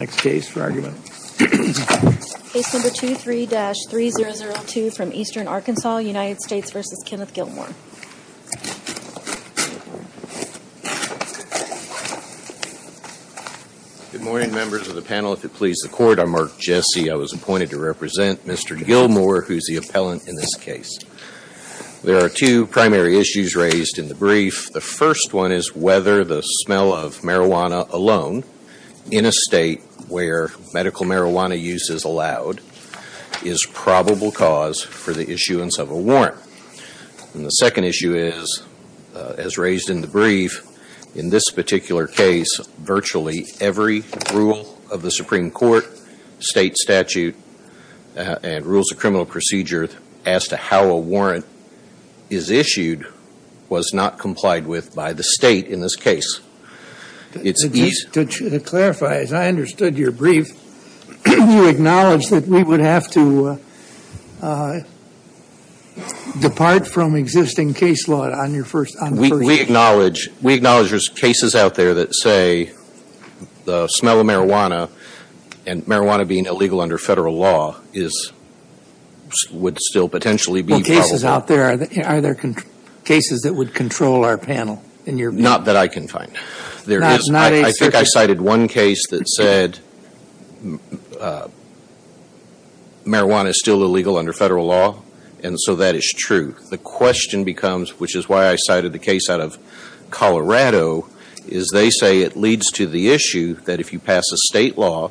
Good morning, members of the panel. If it pleases the Court, I'm Mark Jesse. I was appointed to represent Mr. Gilmore, who is the appellant in this case. There are two primary issues raised in the brief. The first one is whether the smell of marijuana alone, in a state where medical marijuana use is allowed, is probable cause for the issuance of a warrant. The second issue is, as raised in the brief, in this particular case, virtually every rule of the Supreme Court, state statute, and rules of criminal procedure as to how a warrant is issued was not complied with by the state in this case. It's easy... To clarify, as I understood your brief, you acknowledge that we would have to depart from existing case law on your first... We acknowledge there's cases out there that say the smell of marijuana, and marijuana being illegal under Federal law, would still potentially be probable. Are there cases that would control our panel in your... Not that I can find. Not a... I think I cited one case that said marijuana is still illegal under Federal law, and so that is true. The question becomes, which is why I cited the case out of Colorado, is they say it leads to the issue that if you pass a state law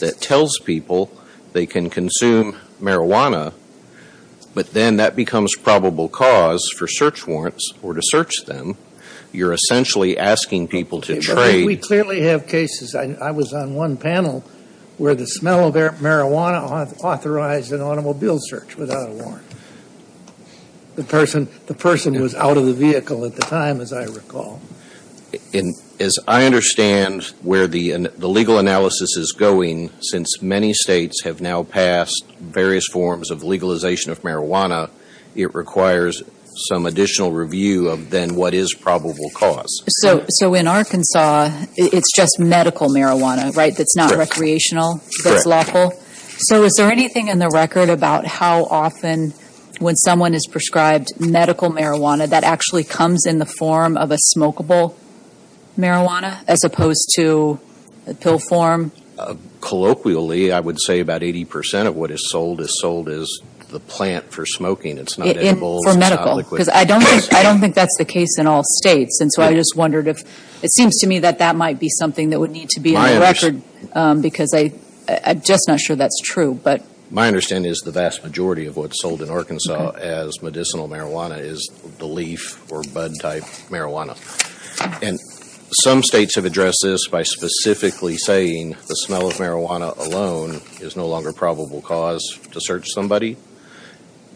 that tells people they can consume marijuana, but then that becomes probable cause for search warrants, or to search them, you're essentially asking people to trade... We clearly have cases. I was on one panel where the smell of marijuana authorized an automobile search without a warrant. The person was out of the vehicle at the time, as I recall. As I understand where the legal analysis is going, since many states have now passed various forms of legalization of marijuana, it requires some additional review of then what is probable cause. So, in Arkansas, it's just medical marijuana, right? That's not recreational, that's lawful. So is there anything in the record about how often, when someone is prescribed medical marijuana, that actually comes in the form of a smokable marijuana, as opposed to pill form? Colloquially, I would say about 80% of what is sold is sold as the plant for smoking. It's not edibles, it's not liquid. For medical, because I don't think that's the case in all states, and so I just wondered if... It seems to me that that might be something that would need to be on the record, because I'm just not sure that's true, but... My understanding is the vast majority of what's sold in Arkansas as medicinal marijuana is the leaf or bud type marijuana. And some states have addressed this by specifically saying the smell of marijuana alone is no longer probable cause to search somebody.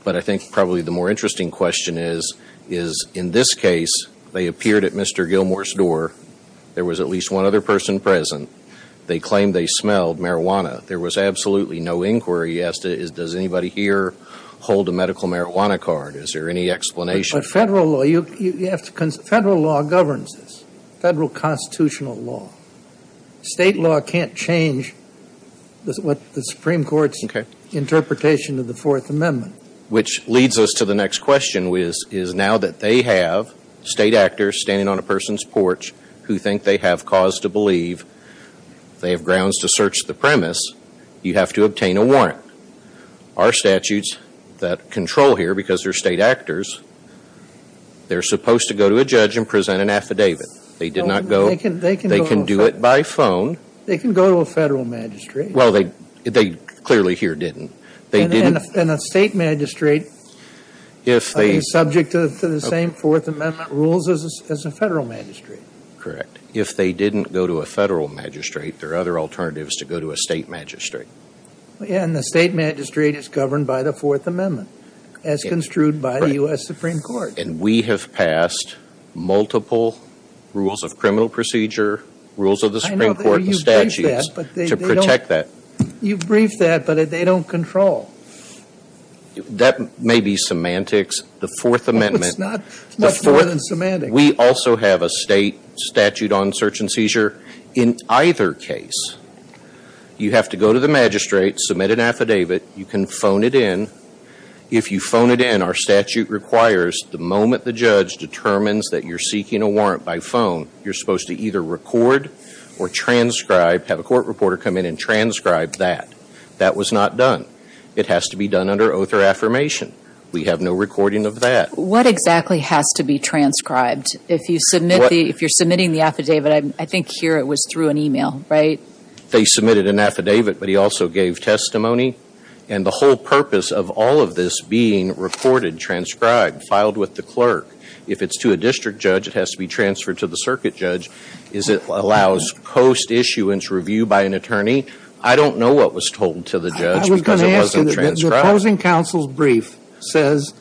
But I think probably the more interesting question is, is in this case, they appeared at Mr. Gilmore's door, there was at least one other person present, they claimed they have grounds to search the premise, you have to obtain a warrant. Our statutes that control here, because they're state actors, they're supposed to go to a judge and present an affidavit. They did not go... They can go... They can do it by phone. They can go to a federal magistrate. Well, they clearly here didn't. They didn't... And a state magistrate... If they... ...is subject to the same Fourth Amendment rules as a federal magistrate. Correct. If they didn't go to a federal magistrate, there are other alternatives to go to a state magistrate. And the state magistrate is governed by the Fourth Amendment, as construed by the U.S. Supreme Court. And we have passed multiple rules of criminal procedure, rules of the Supreme Court and statutes... I know that, but you've briefed that, but they don't... ...to protect that. You've briefed that, but they don't control. That may be semantics. The Fourth Amendment... Well, it's not. It's much more than semantics. We also have a state statute on search and seizure. In either case, you have to go to the magistrate, submit an affidavit. You can phone it in. If you phone it in, our statute requires the moment the judge determines that you're seeking a warrant by phone, you're supposed to either record or transcribe, have a court reporter come in and transcribe that. That was not done. It has to be done under oath or affirmation. We have no recording of that. What exactly has to be transcribed? If you're submitting the affidavit, I think here it was through an email, right? They submitted an affidavit, but he also gave testimony. And the whole purpose of all of this being recorded, transcribed, filed with the clerk, if it's to a district judge, it has to be transferred to the circuit judge. Is it allows post-issuance review by an attorney? I don't know what was told to the judge because it wasn't transcribed. The opposing counsel's brief says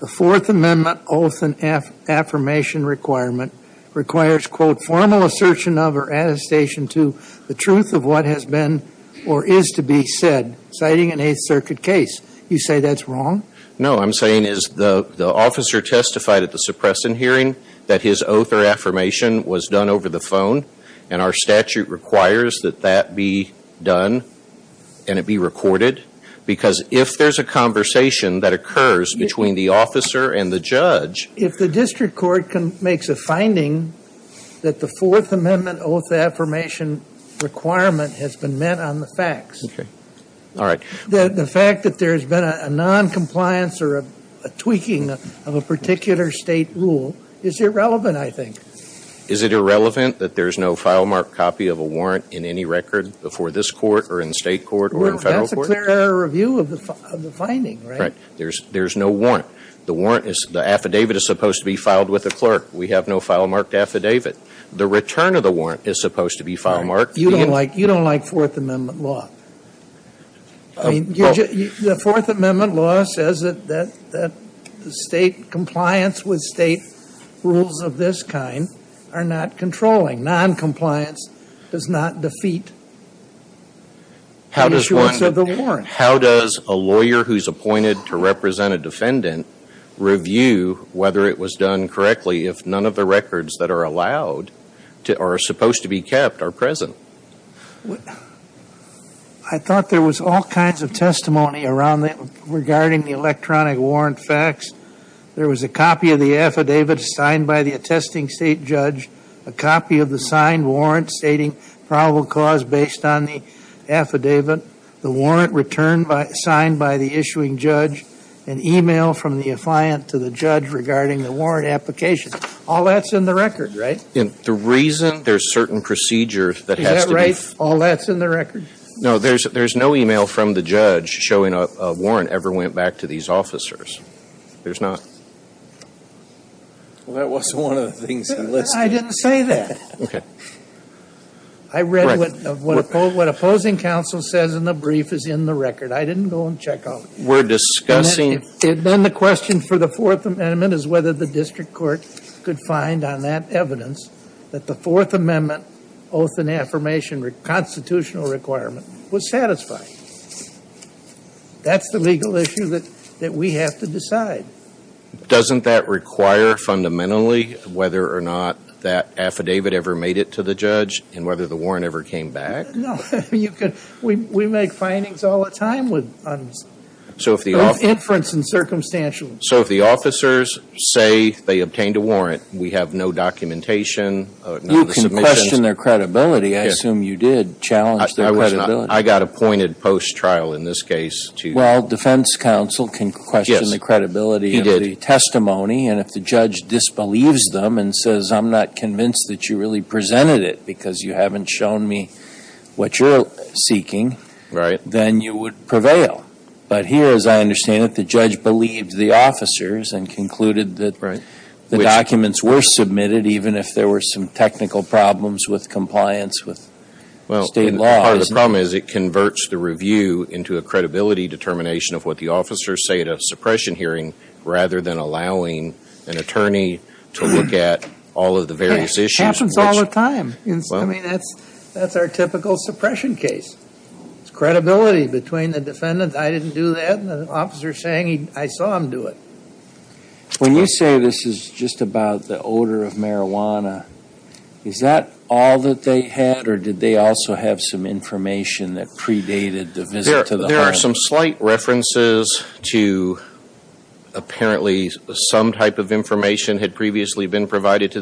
the Fourth Amendment oath and affirmation requirement requires, quote, formal assertion of or attestation to the truth of what has been or is to be said, citing an Eighth Circuit case. You say that's wrong? No. I'm saying is the officer testified at the suppression hearing that his oath or affirmation was done over the phone, and our statute requires that that be done and it be recorded because if there's a conversation that occurs between the officer and the judge. If the district court makes a finding that the Fourth Amendment oath affirmation requirement has been met on the facts, the fact that there's been a non-compliance or a tweaking of a particular state rule is irrelevant, I think. Is it irrelevant that there's no file-marked copy of a warrant in any record before this court or in state court or in federal court? That's a clear review of the finding, right? Right. There's no warrant. The warrant is, the affidavit is supposed to be filed with the clerk. We have no file-marked affidavit. The return of the warrant is supposed to be file-marked. You don't like Fourth Amendment law. The Fourth Amendment law says that the state compliance with state rules of this kind are not controlling. Non-compliance does not defeat the issuance of the warrant. How does a lawyer who's appointed to represent a defendant review whether it was done correctly if none of the records that are allowed or are supposed to be kept are present? I thought there was all kinds of testimony around that regarding the electronic warrant facts. There was a copy of the affidavit signed by the attesting state judge, a copy of the signed warrant stating probable cause based on the affidavit, the warrant returned by, signed by the issuing judge, an email from the affliant to the judge regarding the warrant application. All that's in the record, right? And the reason there's certain procedures that has to be Is that right, all that's in the record? No, there's no email from the judge showing a warrant ever went back to these officers. There's not. Well, that wasn't one of the things I'm listening to. I didn't say that. Okay. I read what opposing counsel says in the brief is in the record. I didn't go and check on it. We're discussing And then the question for the Fourth Amendment is whether the district court could find on that evidence that the Fourth Amendment oath and affirmation constitutional requirement was satisfied. That's the legal issue that we have to decide. Doesn't that require fundamentally whether or not that affidavit ever made it to the judge and whether the warrant ever came back? No. You could. We make findings all the time with inference and circumstantial. So if the officers say they obtained a warrant, we have no documentation, you can question their credibility. I assume you did challenge that. I got appointed post trial in this case to well, defense counsel can question the credibility of the testimony. And if the judge disbelieves them and says, I'm not convinced that you really presented it because you haven't shown me what you're seeking, then you would prevail. But here, as I understand it, the judge believed the officers and concluded that the documents were submitted, even if there were some technical problems with compliance with state laws. Well, part of the problem is it converts the review into a credibility determination of what the officers say at a suppression hearing, rather than allowing an attorney to look at all of the various issues. Happens all the time. I mean, that's our typical suppression case. It's credibility between the defendant, I didn't do that, and the officer saying I saw him do it. When you say this is just about the odor of marijuana, is that all that they had or did they also have some information that predated the visit to the home? There are some slight references to apparently some type of information had previously been stated.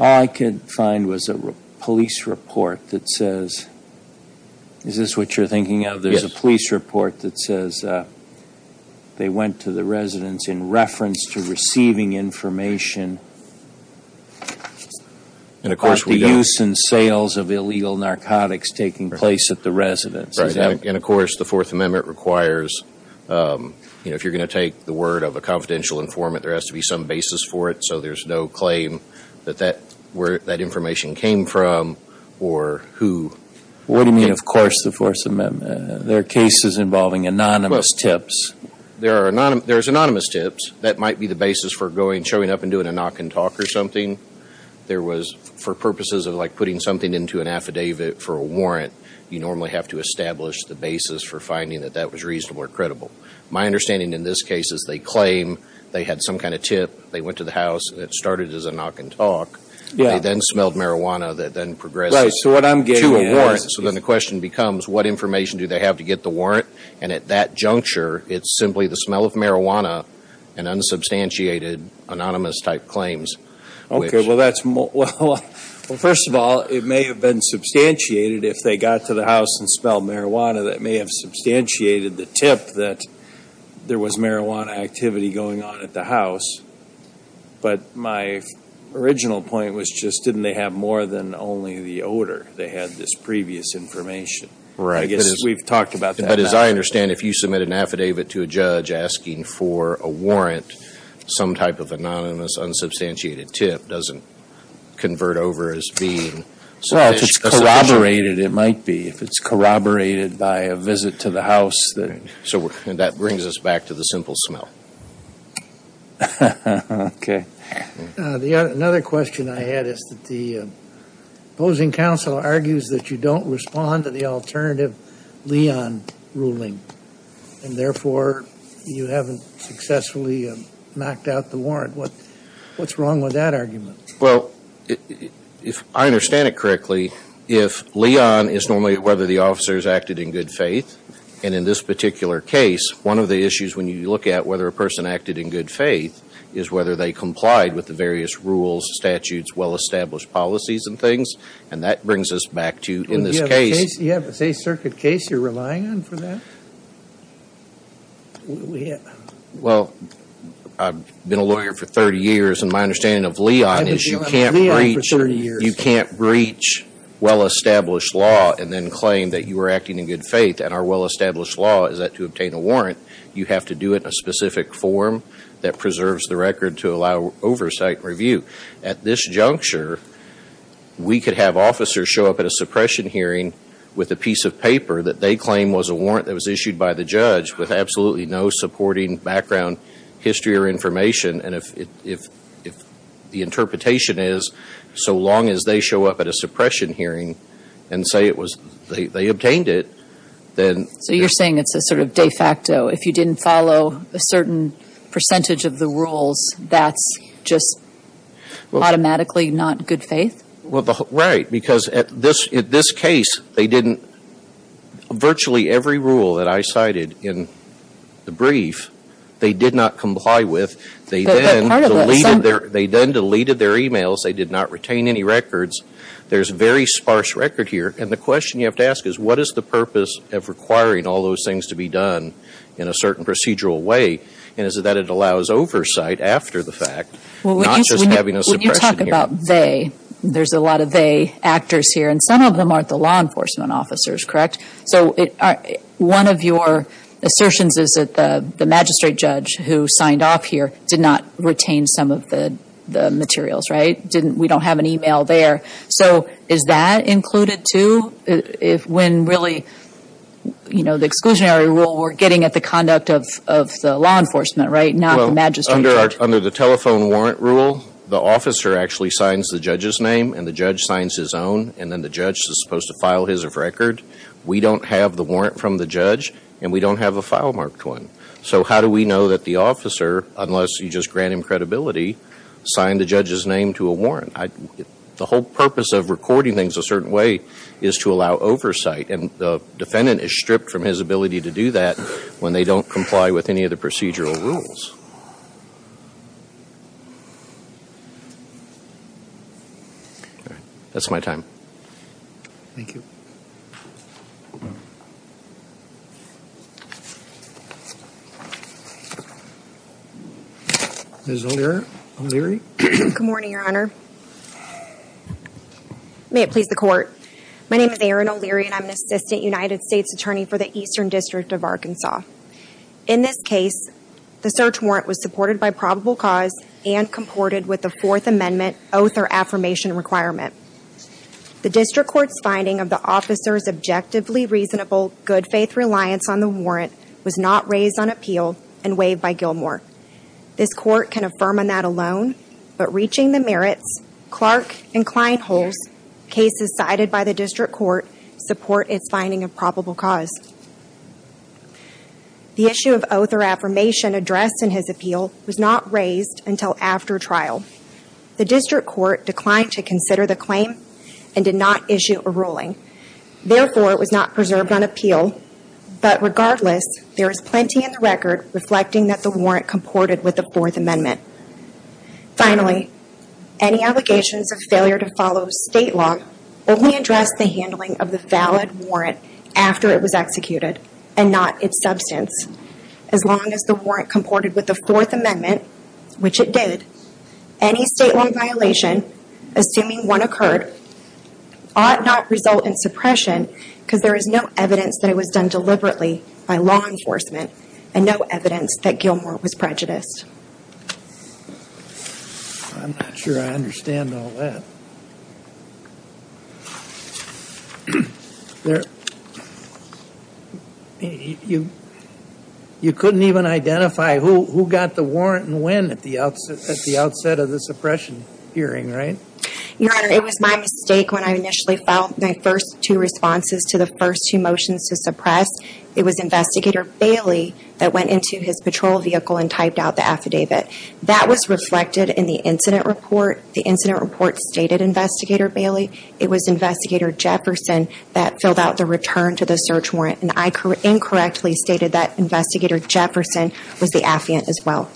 All I could find was a police report that says, is this what you're thinking of? There's a police report that says they went to the residence in reference to receiving information about the use and sales of illegal narcotics taking place at the residence. Right. And of course, the Fourth Amendment requires, you know, if you're going to take the word of a confidential informant, there has to be some basis for it, so there's no claim that where that information came from or who. What do you mean, of course, the Fourth Amendment? There are cases involving anonymous tips. There's anonymous tips. That might be the basis for showing up and doing a knock and talk or something. There was, for purposes of like putting something into an affidavit for a warrant, you normally have to establish the basis for finding that that was reasonable or credible. My understanding in this case is they claim they had some kind of tip. They went to the house. It started as a knock and talk. Yeah. They then smelled marijuana that then progressed to a warrant, so then the question becomes what information do they have to get the warrant? And at that juncture, it's simply the smell of marijuana and unsubstantiated anonymous type claims. Okay. Well, that's, well, first of all, it may have been substantiated if they got to the house and smelled marijuana that may have substantiated the tip that there was marijuana activity going on at the house. But my original point was just didn't they have more than only the odor? They had this previous information. Right. I guess we've talked about that. But as I understand, if you submit an affidavit to a judge asking for a warrant, some type of anonymous unsubstantiated tip doesn't convert over as being sufficient. Well, if it's corroborated, it might be. If it's corroborated by a visit to the house, so that brings us back to the simple smell. Okay. Another question I had is that the opposing counsel argues that you don't respond to the alternative Leon ruling, and therefore, you haven't successfully knocked out the warrant. What's wrong with that argument? Well, if I understand it correctly, if Leon is normally whether the officers acted in good faith, and in this particular case, one of the issues when you look at whether a person acted in good faith is whether they complied with the various rules, statutes, well-established policies and things. And that brings us back to in this case. You have a State Circuit case you're relying on for that? Well, I've been a lawyer for 30 years. My understanding of Leon is you can't breach well-established law and then claim that you were acting in good faith. And our well-established law is that to obtain a warrant, you have to do it in a specific form that preserves the record to allow oversight and review. At this juncture, we could have officers show up at a suppression hearing with a piece of paper that they claim was a warrant that was issued by the judge with absolutely no supporting background history or information. And if the interpretation is so long as they show up at a suppression hearing and say it was they obtained it, then... So you're saying it's a sort of de facto. If you didn't follow a certain percentage of the rules, that's just automatically not good faith? Well, right. Because at this case, they didn't virtually every rule that I cited in the brief, they did not comply with. They then deleted their emails. They did not retain any records. There's very sparse record here. And the question you have to ask is, what is the purpose of requiring all those things to be done in a certain procedural way? And is it that it allows oversight after the fact, not just having a suppression hearing? Well, when you talk about they, there's a lot of they actors here. And some of them aren't the law enforcement officers, correct? So one of your assertions is that the magistrate judge who signed off here did not retain some of the materials, right? We don't have an email there. So is that included too? If when really, you know, the exclusionary rule, we're getting at the conduct of the law enforcement, right? Not the magistrate judge. Well, under the telephone warrant rule, the officer actually signs the judge's name and the judge signs his own, and then the judge is supposed to file his of record. We don't have the warrant from the judge and we don't have a file marked one. So how do we know that the officer, unless you just grant him credibility, signed the judge's name to a warrant? The whole purpose of recording things a certain way is to allow oversight. And the defendant is stripped from his ability to do that when they don't comply with any of the procedural rules. That's my time. Thank you. Ms. O'Leary. Good morning, Your Honor. May it please the Court. My name is Erin O'Leary and I'm an Assistant United States Attorney for the Eastern District of Arkansas. In this case, the search warrant was supported by probable cause and comported with the Fourth Amendment oath or affirmation requirement. The District Court's finding of the officer's objectively reasonable, good-faith reliance on the warrant was not raised on appeal and waived by Gilmore. This Court can affirm on that alone, but reaching the merits, Clark and Kleinholz cases cited by the District Court support its finding of probable cause. The issue of oath or affirmation addressed in his appeal was not raised until after trial. The District Court declined to consider the claim and did not issue a ruling. Therefore, it was not preserved on appeal, but regardless, there is plenty in the record reflecting that the warrant comported with the Fourth Amendment. Finally, any allegations of failure to follow state law only address the handling of the valid warrant after it was executed and not its substance. As long as the warrant comported with the Fourth Amendment, which it did, any state law violation, assuming one occurred, ought not result in suppression because there is no evidence that it was done deliberately by law enforcement and no evidence that Gilmore was prejudiced. I'm not sure I understand all that. You couldn't even identify who got the warrant and when at the outset of the suppression hearing, right? Your Honor, it was my mistake when I initially filed my first two responses to the first two motions to suppress. It was Investigator Bailey that went into his patrol vehicle and typed out the affidavit. That was reflected in the incident report. The incident report stated Investigator Bailey. It was Investigator Jefferson that filled out the return to the search warrant, and I incorrectly stated that Investigator Jefferson was the affiant as well.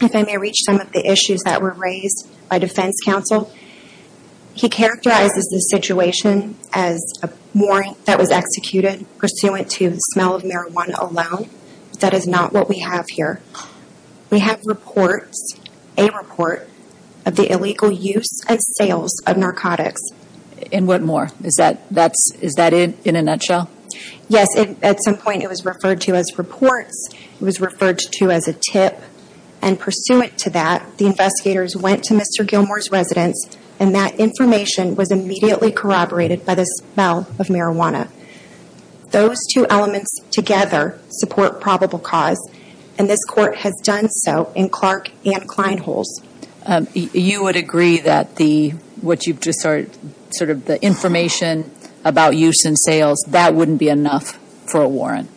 If I may reach some of the issues that were raised by defense counsel, he characterizes the situation as a warrant that was executed pursuant to the smell of marijuana alone. That is not what we have here. We have reports, a report, of the illegal use and sales of narcotics. And what more? Is that it in a nutshell? Yes. At some point, it was referred to as reports, it was referred to as a tip, and pursuant to that, the investigators went to Mr. Gilmore's residence and that information was immediately corroborated by the smell of marijuana. Those two elements together support probable cause, and this Court has done so in Clark and Kline holes. You would agree that the information about use and sales, that wouldn't be enough for a warrant?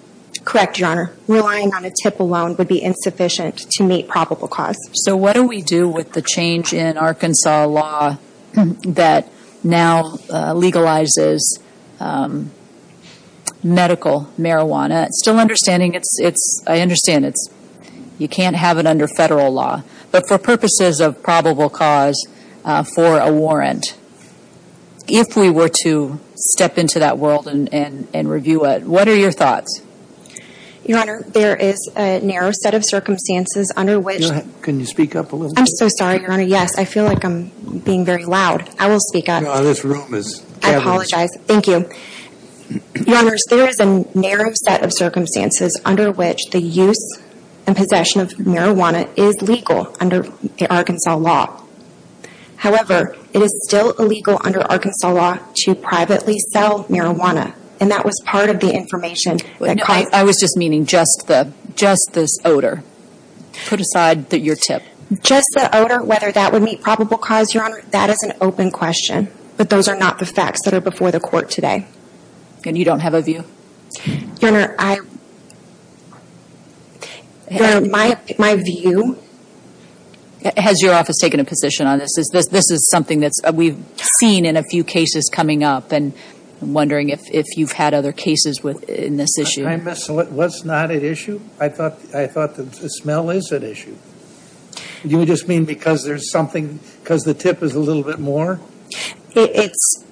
Correct, Your Honor. Relying on a tip alone would be insufficient to meet probable cause. So what do we do with the change in Arkansas law that now legalizes medical marijuana? Still understanding, I understand you can't have it under federal law, but for purposes of probable cause for a warrant, if we were to step into that world and review it, what are your thoughts? Your Honor, there is a narrow set of circumstances under which... Can you speak up a little bit? I'm so sorry, Your Honor. Yes, I feel like I'm being very loud. I will speak up. No, this room is... I apologize. Thank you. Your Honors, there is a narrow set of circumstances under which the use and possession of marijuana is legal under the Arkansas law. However, it is still illegal under Arkansas law to privately sell marijuana, and that was part of the information that caused... I was just meaning just this odor. Put aside your tip. Just the odor, whether that would meet probable cause, Your Honor, that is an open question. But those are not the facts that are before the court today. And you don't have a view? Your Honor, my view... Has your office taken a position on this? This is something that we've seen in a few cases coming up, and I'm wondering if you've had other cases in this issue. I'm sorry, what's not at issue? I thought the smell is at issue. You just mean because there's something... Because the tip is a little bit more? It's...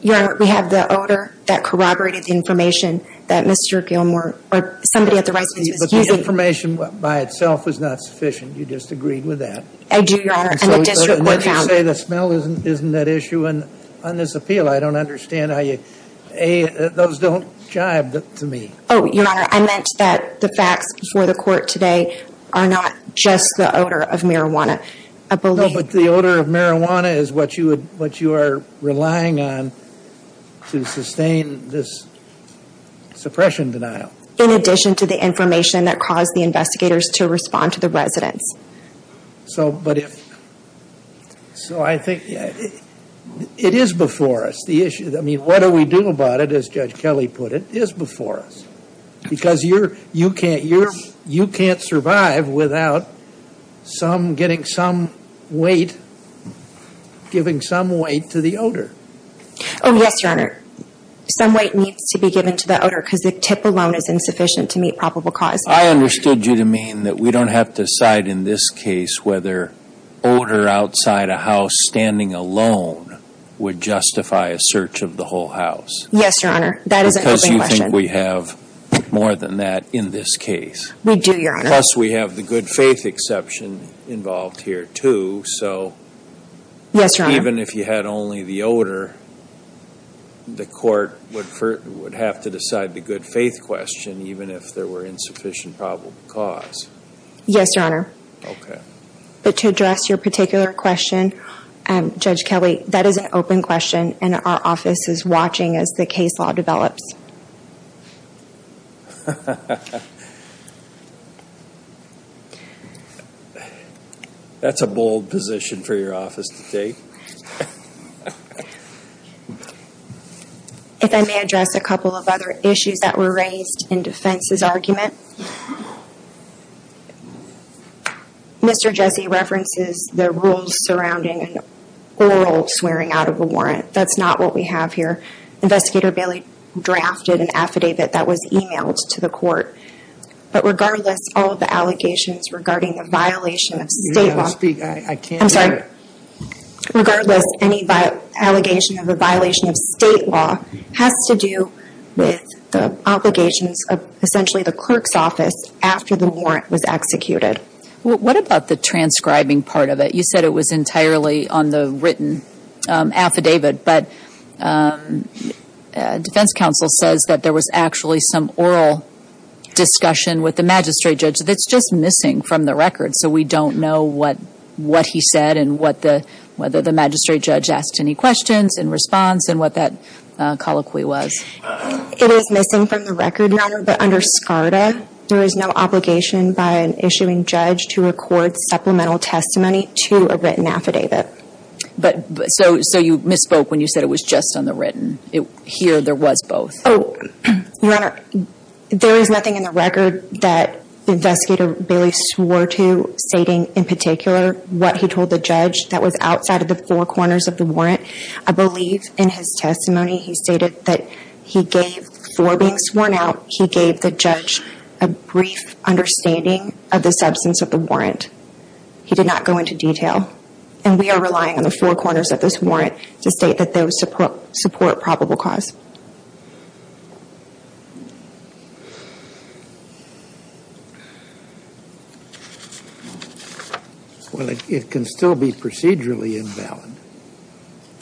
Your Honor, we have the odor that corroborated the information that Mr. Gilmore... Or somebody at the right... You disagreed with that. I do, Your Honor. And the district court found... So you say the smell isn't at issue on this appeal. I don't understand how you... A, those don't jive to me. Oh, Your Honor, I meant that the facts before the court today are not just the odor of marijuana. I believe... No, but the odor of marijuana is what you are relying on to sustain this suppression denial. In addition to the information that caused the investigators to respond to the residents. So, but if... So I think it is before us, the issue. I mean, what do we do about it, as Judge Kelly put it, is before us. Because you can't survive without getting some weight, giving some weight to the odor. Oh, yes, Your Honor. Some weight needs to be given to the odor, because the tip alone is insufficient to meet probable cause. I understood you to mean that we don't have to decide in this case whether odor outside a house standing alone would justify a search of the whole house. Yes, Your Honor. Because you think we have more than that in this case. We do, Your Honor. Plus, we have the good faith exception involved here, too. So... Yes, Your Honor. Even if you had only the odor, the court would have to decide the good faith question, even if there were insufficient probable cause. Yes, Your Honor. Okay. But to address your particular question, Judge Kelly, that is an open question, and our office is watching as the case law develops. That's a bold position for your office to take. If I may address a couple of other issues that were raised in defense's argument. Mr. Jesse references the rules surrounding an oral swearing out of a warrant. That's not what we have here. Investigator Bailey drafted an affidavit that was emailed to the court. But regardless, all of the allegations regarding the violation of state law... You're going to speak. I can't hear it. I'm sorry. Regardless, any allegation of a violation of state law has to do with the obligations of essentially the clerk's office after the warrant was executed. What about the transcribing part of it? You said it was entirely on the written affidavit. But defense counsel says that there was actually some oral discussion with the magistrate judge. It's just missing from the record, so we don't know what he said and whether the magistrate judge asked any questions in response and what that colloquy was. It is missing from the record, Your Honor, but under SCARDA, there is no obligation by an issuing judge to record supplemental testimony to a written affidavit. So you misspoke when you said it was just on the written. Here, there was both. Your Honor, there is nothing in the record that Investigator Bailey swore to stating in particular what he told the judge that was outside of the four corners of the warrant. I believe in his testimony, he stated that before being sworn out, he gave the judge a brief understanding of the substance of the warrant. He did not go into detail. And we are relying on the four corners of this warrant to state that those support probable cause. Well, it can still be procedurally invalid.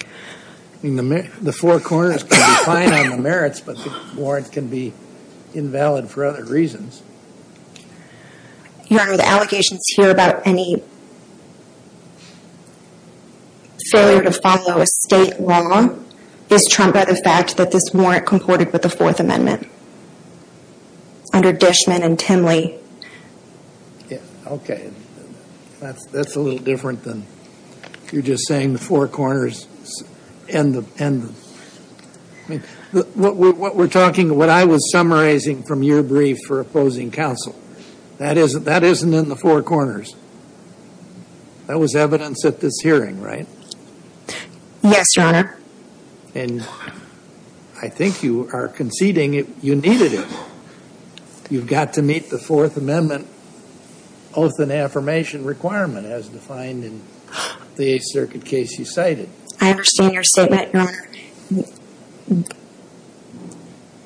I mean, the four corners can be fine on the merits, but the warrant can be invalid for other reasons. Your Honor, the allegations here about any failure to follow a state law is trumped by the fact that this warrant comported with the Fourth Amendment under Dishman and Timley. Yeah, okay. That's a little different than you're just saying the four corners and the... What we're talking, what I was summarizing from your brief for opposing counsel, that isn't in the four corners. That was evidence at this hearing, right? Yes, Your Honor. And I think you are conceding you needed it. You've got to meet the Fourth Amendment oath and affirmation requirement as defined in the Eighth Circuit case you cited. I understand your statement, Your Honor.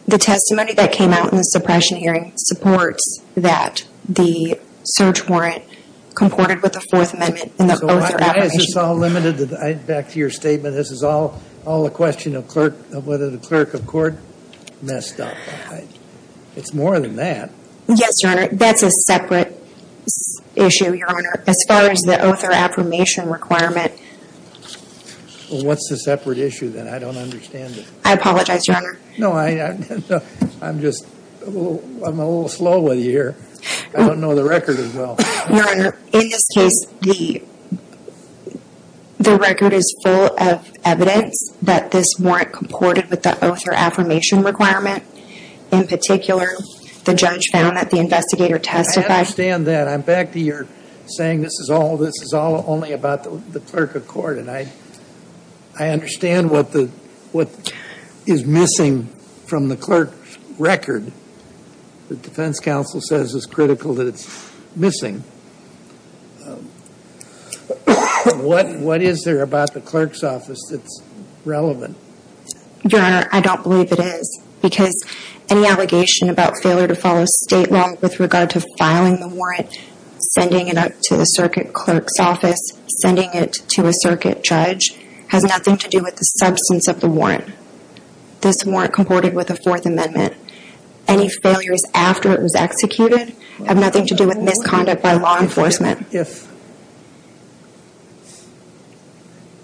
The testimony that came out in the suppression hearing supports that the search warrant comported with the Fourth Amendment in the oath or affirmation. So why is this all limited, back to your statement, this is all a question of whether the clerk of court messed up. It's more than that. Yes, Your Honor. That's a separate issue, Your Honor. As far as the oath or affirmation requirement... What's the separate issue then? I don't understand it. I apologize, Your Honor. No, I'm just a little slow with you here. I don't know the record as well. Your Honor, in this case, the record is full of evidence that this warrant comported with the oath or affirmation requirement. In particular, the judge found that the investigator testified... I understand that. But I'm back to your saying this is all only about the clerk of court, and I understand what is missing from the clerk's record. The defense counsel says it's critical that it's missing. What is there about the clerk's office that's relevant? Your Honor, I don't believe it is. Because any allegation about failure to follow state law with regard to filing the warrant, sending it up to the circuit clerk's office, sending it to a circuit judge, has nothing to do with the substance of the warrant. This warrant comported with the Fourth Amendment. Any failures after it was executed have nothing to do with misconduct by law enforcement. If...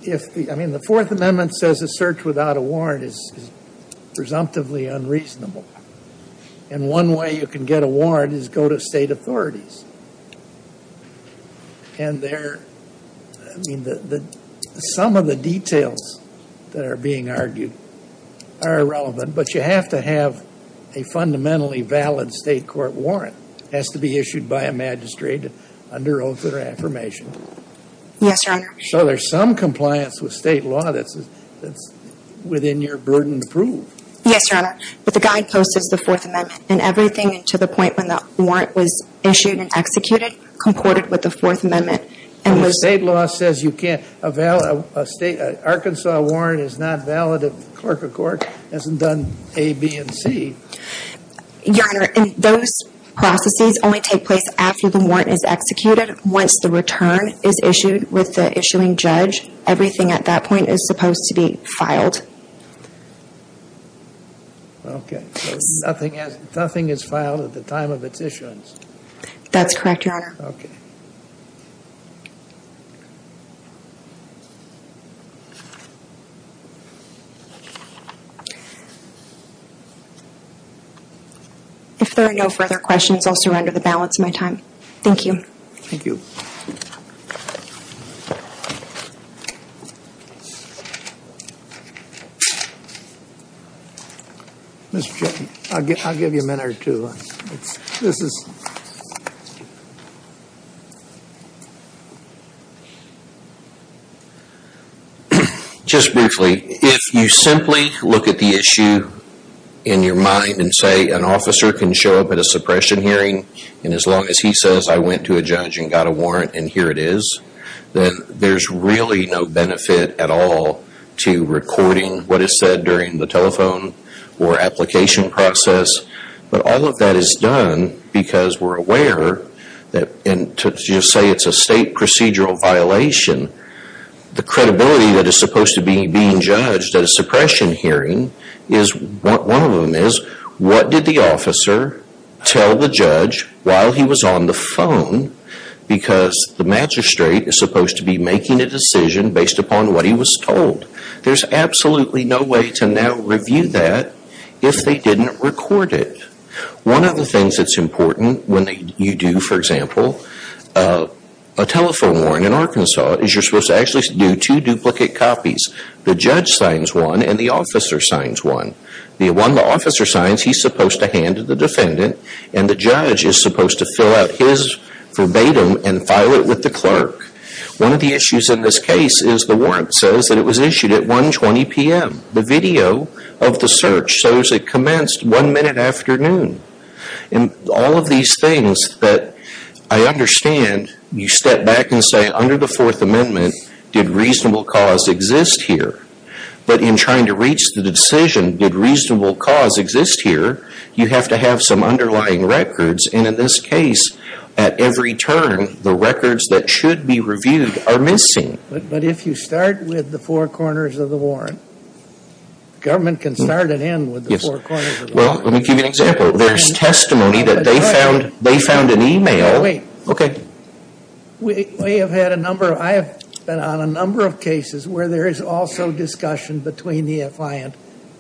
I mean, the Fourth Amendment says a search without a warrant is presumptively unreasonable. And one way you can get a warrant is go to state authorities. And they're... I mean, some of the details that are being argued are irrelevant. But you have to have a fundamentally valid state court warrant. It has to be issued by a magistrate under oath of affirmation. Yes, Your Honor. So there's some compliance with state law that's within your burden to prove. Yes, Your Honor. But the guidepost is the Fourth Amendment. And everything to the point when the warrant was issued and executed comported with the Fourth Amendment. And the state law says you can't... Arkansas warrant is not valid if the clerk of court hasn't done A, B, and C. Your Honor, those processes only take place after the warrant is executed. Once the return is issued with the issuing judge, everything at that point is supposed to be filed. Okay. Nothing is filed at the time of its issuance. That's correct, Your Honor. Okay. If there are no further questions, I'll surrender the balance of my time. Thank you. Thank you. Mr. Chairman, I'll give you a minute or two. This is... Just briefly, if you simply look at the issue in your mind and say an officer can show up at a suppression hearing and as long as he says I went to a judge and got a warrant and here it is, then there's really no benefit at all to recording what is said during the telephone or application process. But all of that is done because we're aware that to just say it's a state procedural violation, the credibility that is supposed to be being judged at a suppression hearing, one of them is what did the officer tell the judge while he was on the phone because the magistrate is supposed to be making a decision based upon what he was told. There's absolutely no way to now review that if they didn't record it. One of the things that's important when you do, for example, a telephone warrant in Arkansas is you're supposed to actually do two duplicate copies. The judge signs one and the officer signs one. The one the officer signs, he's supposed to hand to the defendant and the judge is supposed to fill out his verbatim and file it with the clerk. One of the issues in this case is the warrant says that it was issued at 1.20 p.m. The video of the search shows it commenced one minute after noon. All of these things that I understand, you step back and say under the Fourth Amendment, did reasonable cause exist here? But in trying to reach the decision, did reasonable cause exist here? You have to have some underlying records and in this case, at every turn, the records that should be reviewed are missing. But if you start with the four corners of the warrant, government can start and end with the four corners of the warrant. Well, let me give you an example. There's testimony that they found an e-mail. Wait. Okay. We have had a number of, I have been on a number of cases where there is also discussion between the defiant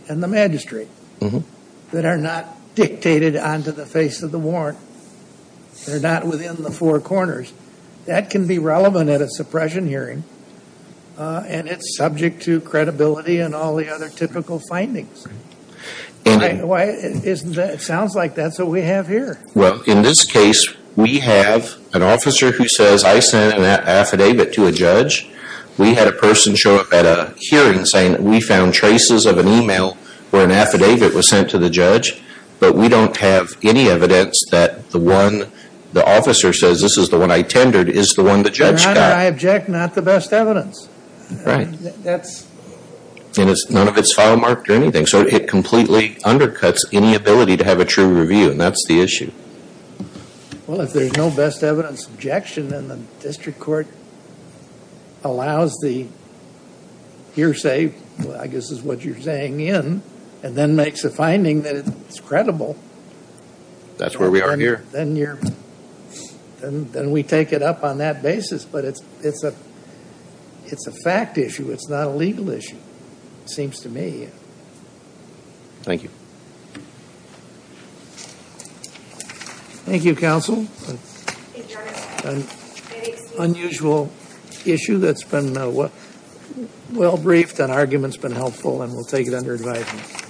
and the magistrate that are not dictated onto the face of the warrant. They're not within the four corners. That can be relevant at a suppression hearing and it's subject to credibility and all the other typical findings. It sounds like that's what we have here. Well, in this case, we have an officer who says I sent an affidavit to a judge. We had a person show up at a hearing saying that we found traces of an e-mail where an affidavit was sent to the judge, but we don't have any evidence that the one the officer says, this is the one I tendered, is the one the judge got. Your Honor, I object not to best evidence. Right. And none of it is file marked or anything. So it completely undercuts any ability to have a true review, and that's the issue. Well, if there's no best evidence objection, then the district court allows the hearsay, I guess is what you're saying, in, and then makes a finding that it's credible. That's where we are here. Then we take it up on that basis, but it's a fact issue. It's not a legal issue, it seems to me. Thank you. Thank you, counsel. Unusual issue that's been well-briefed. That argument's been helpful, and we'll take it under advisement. Thank you.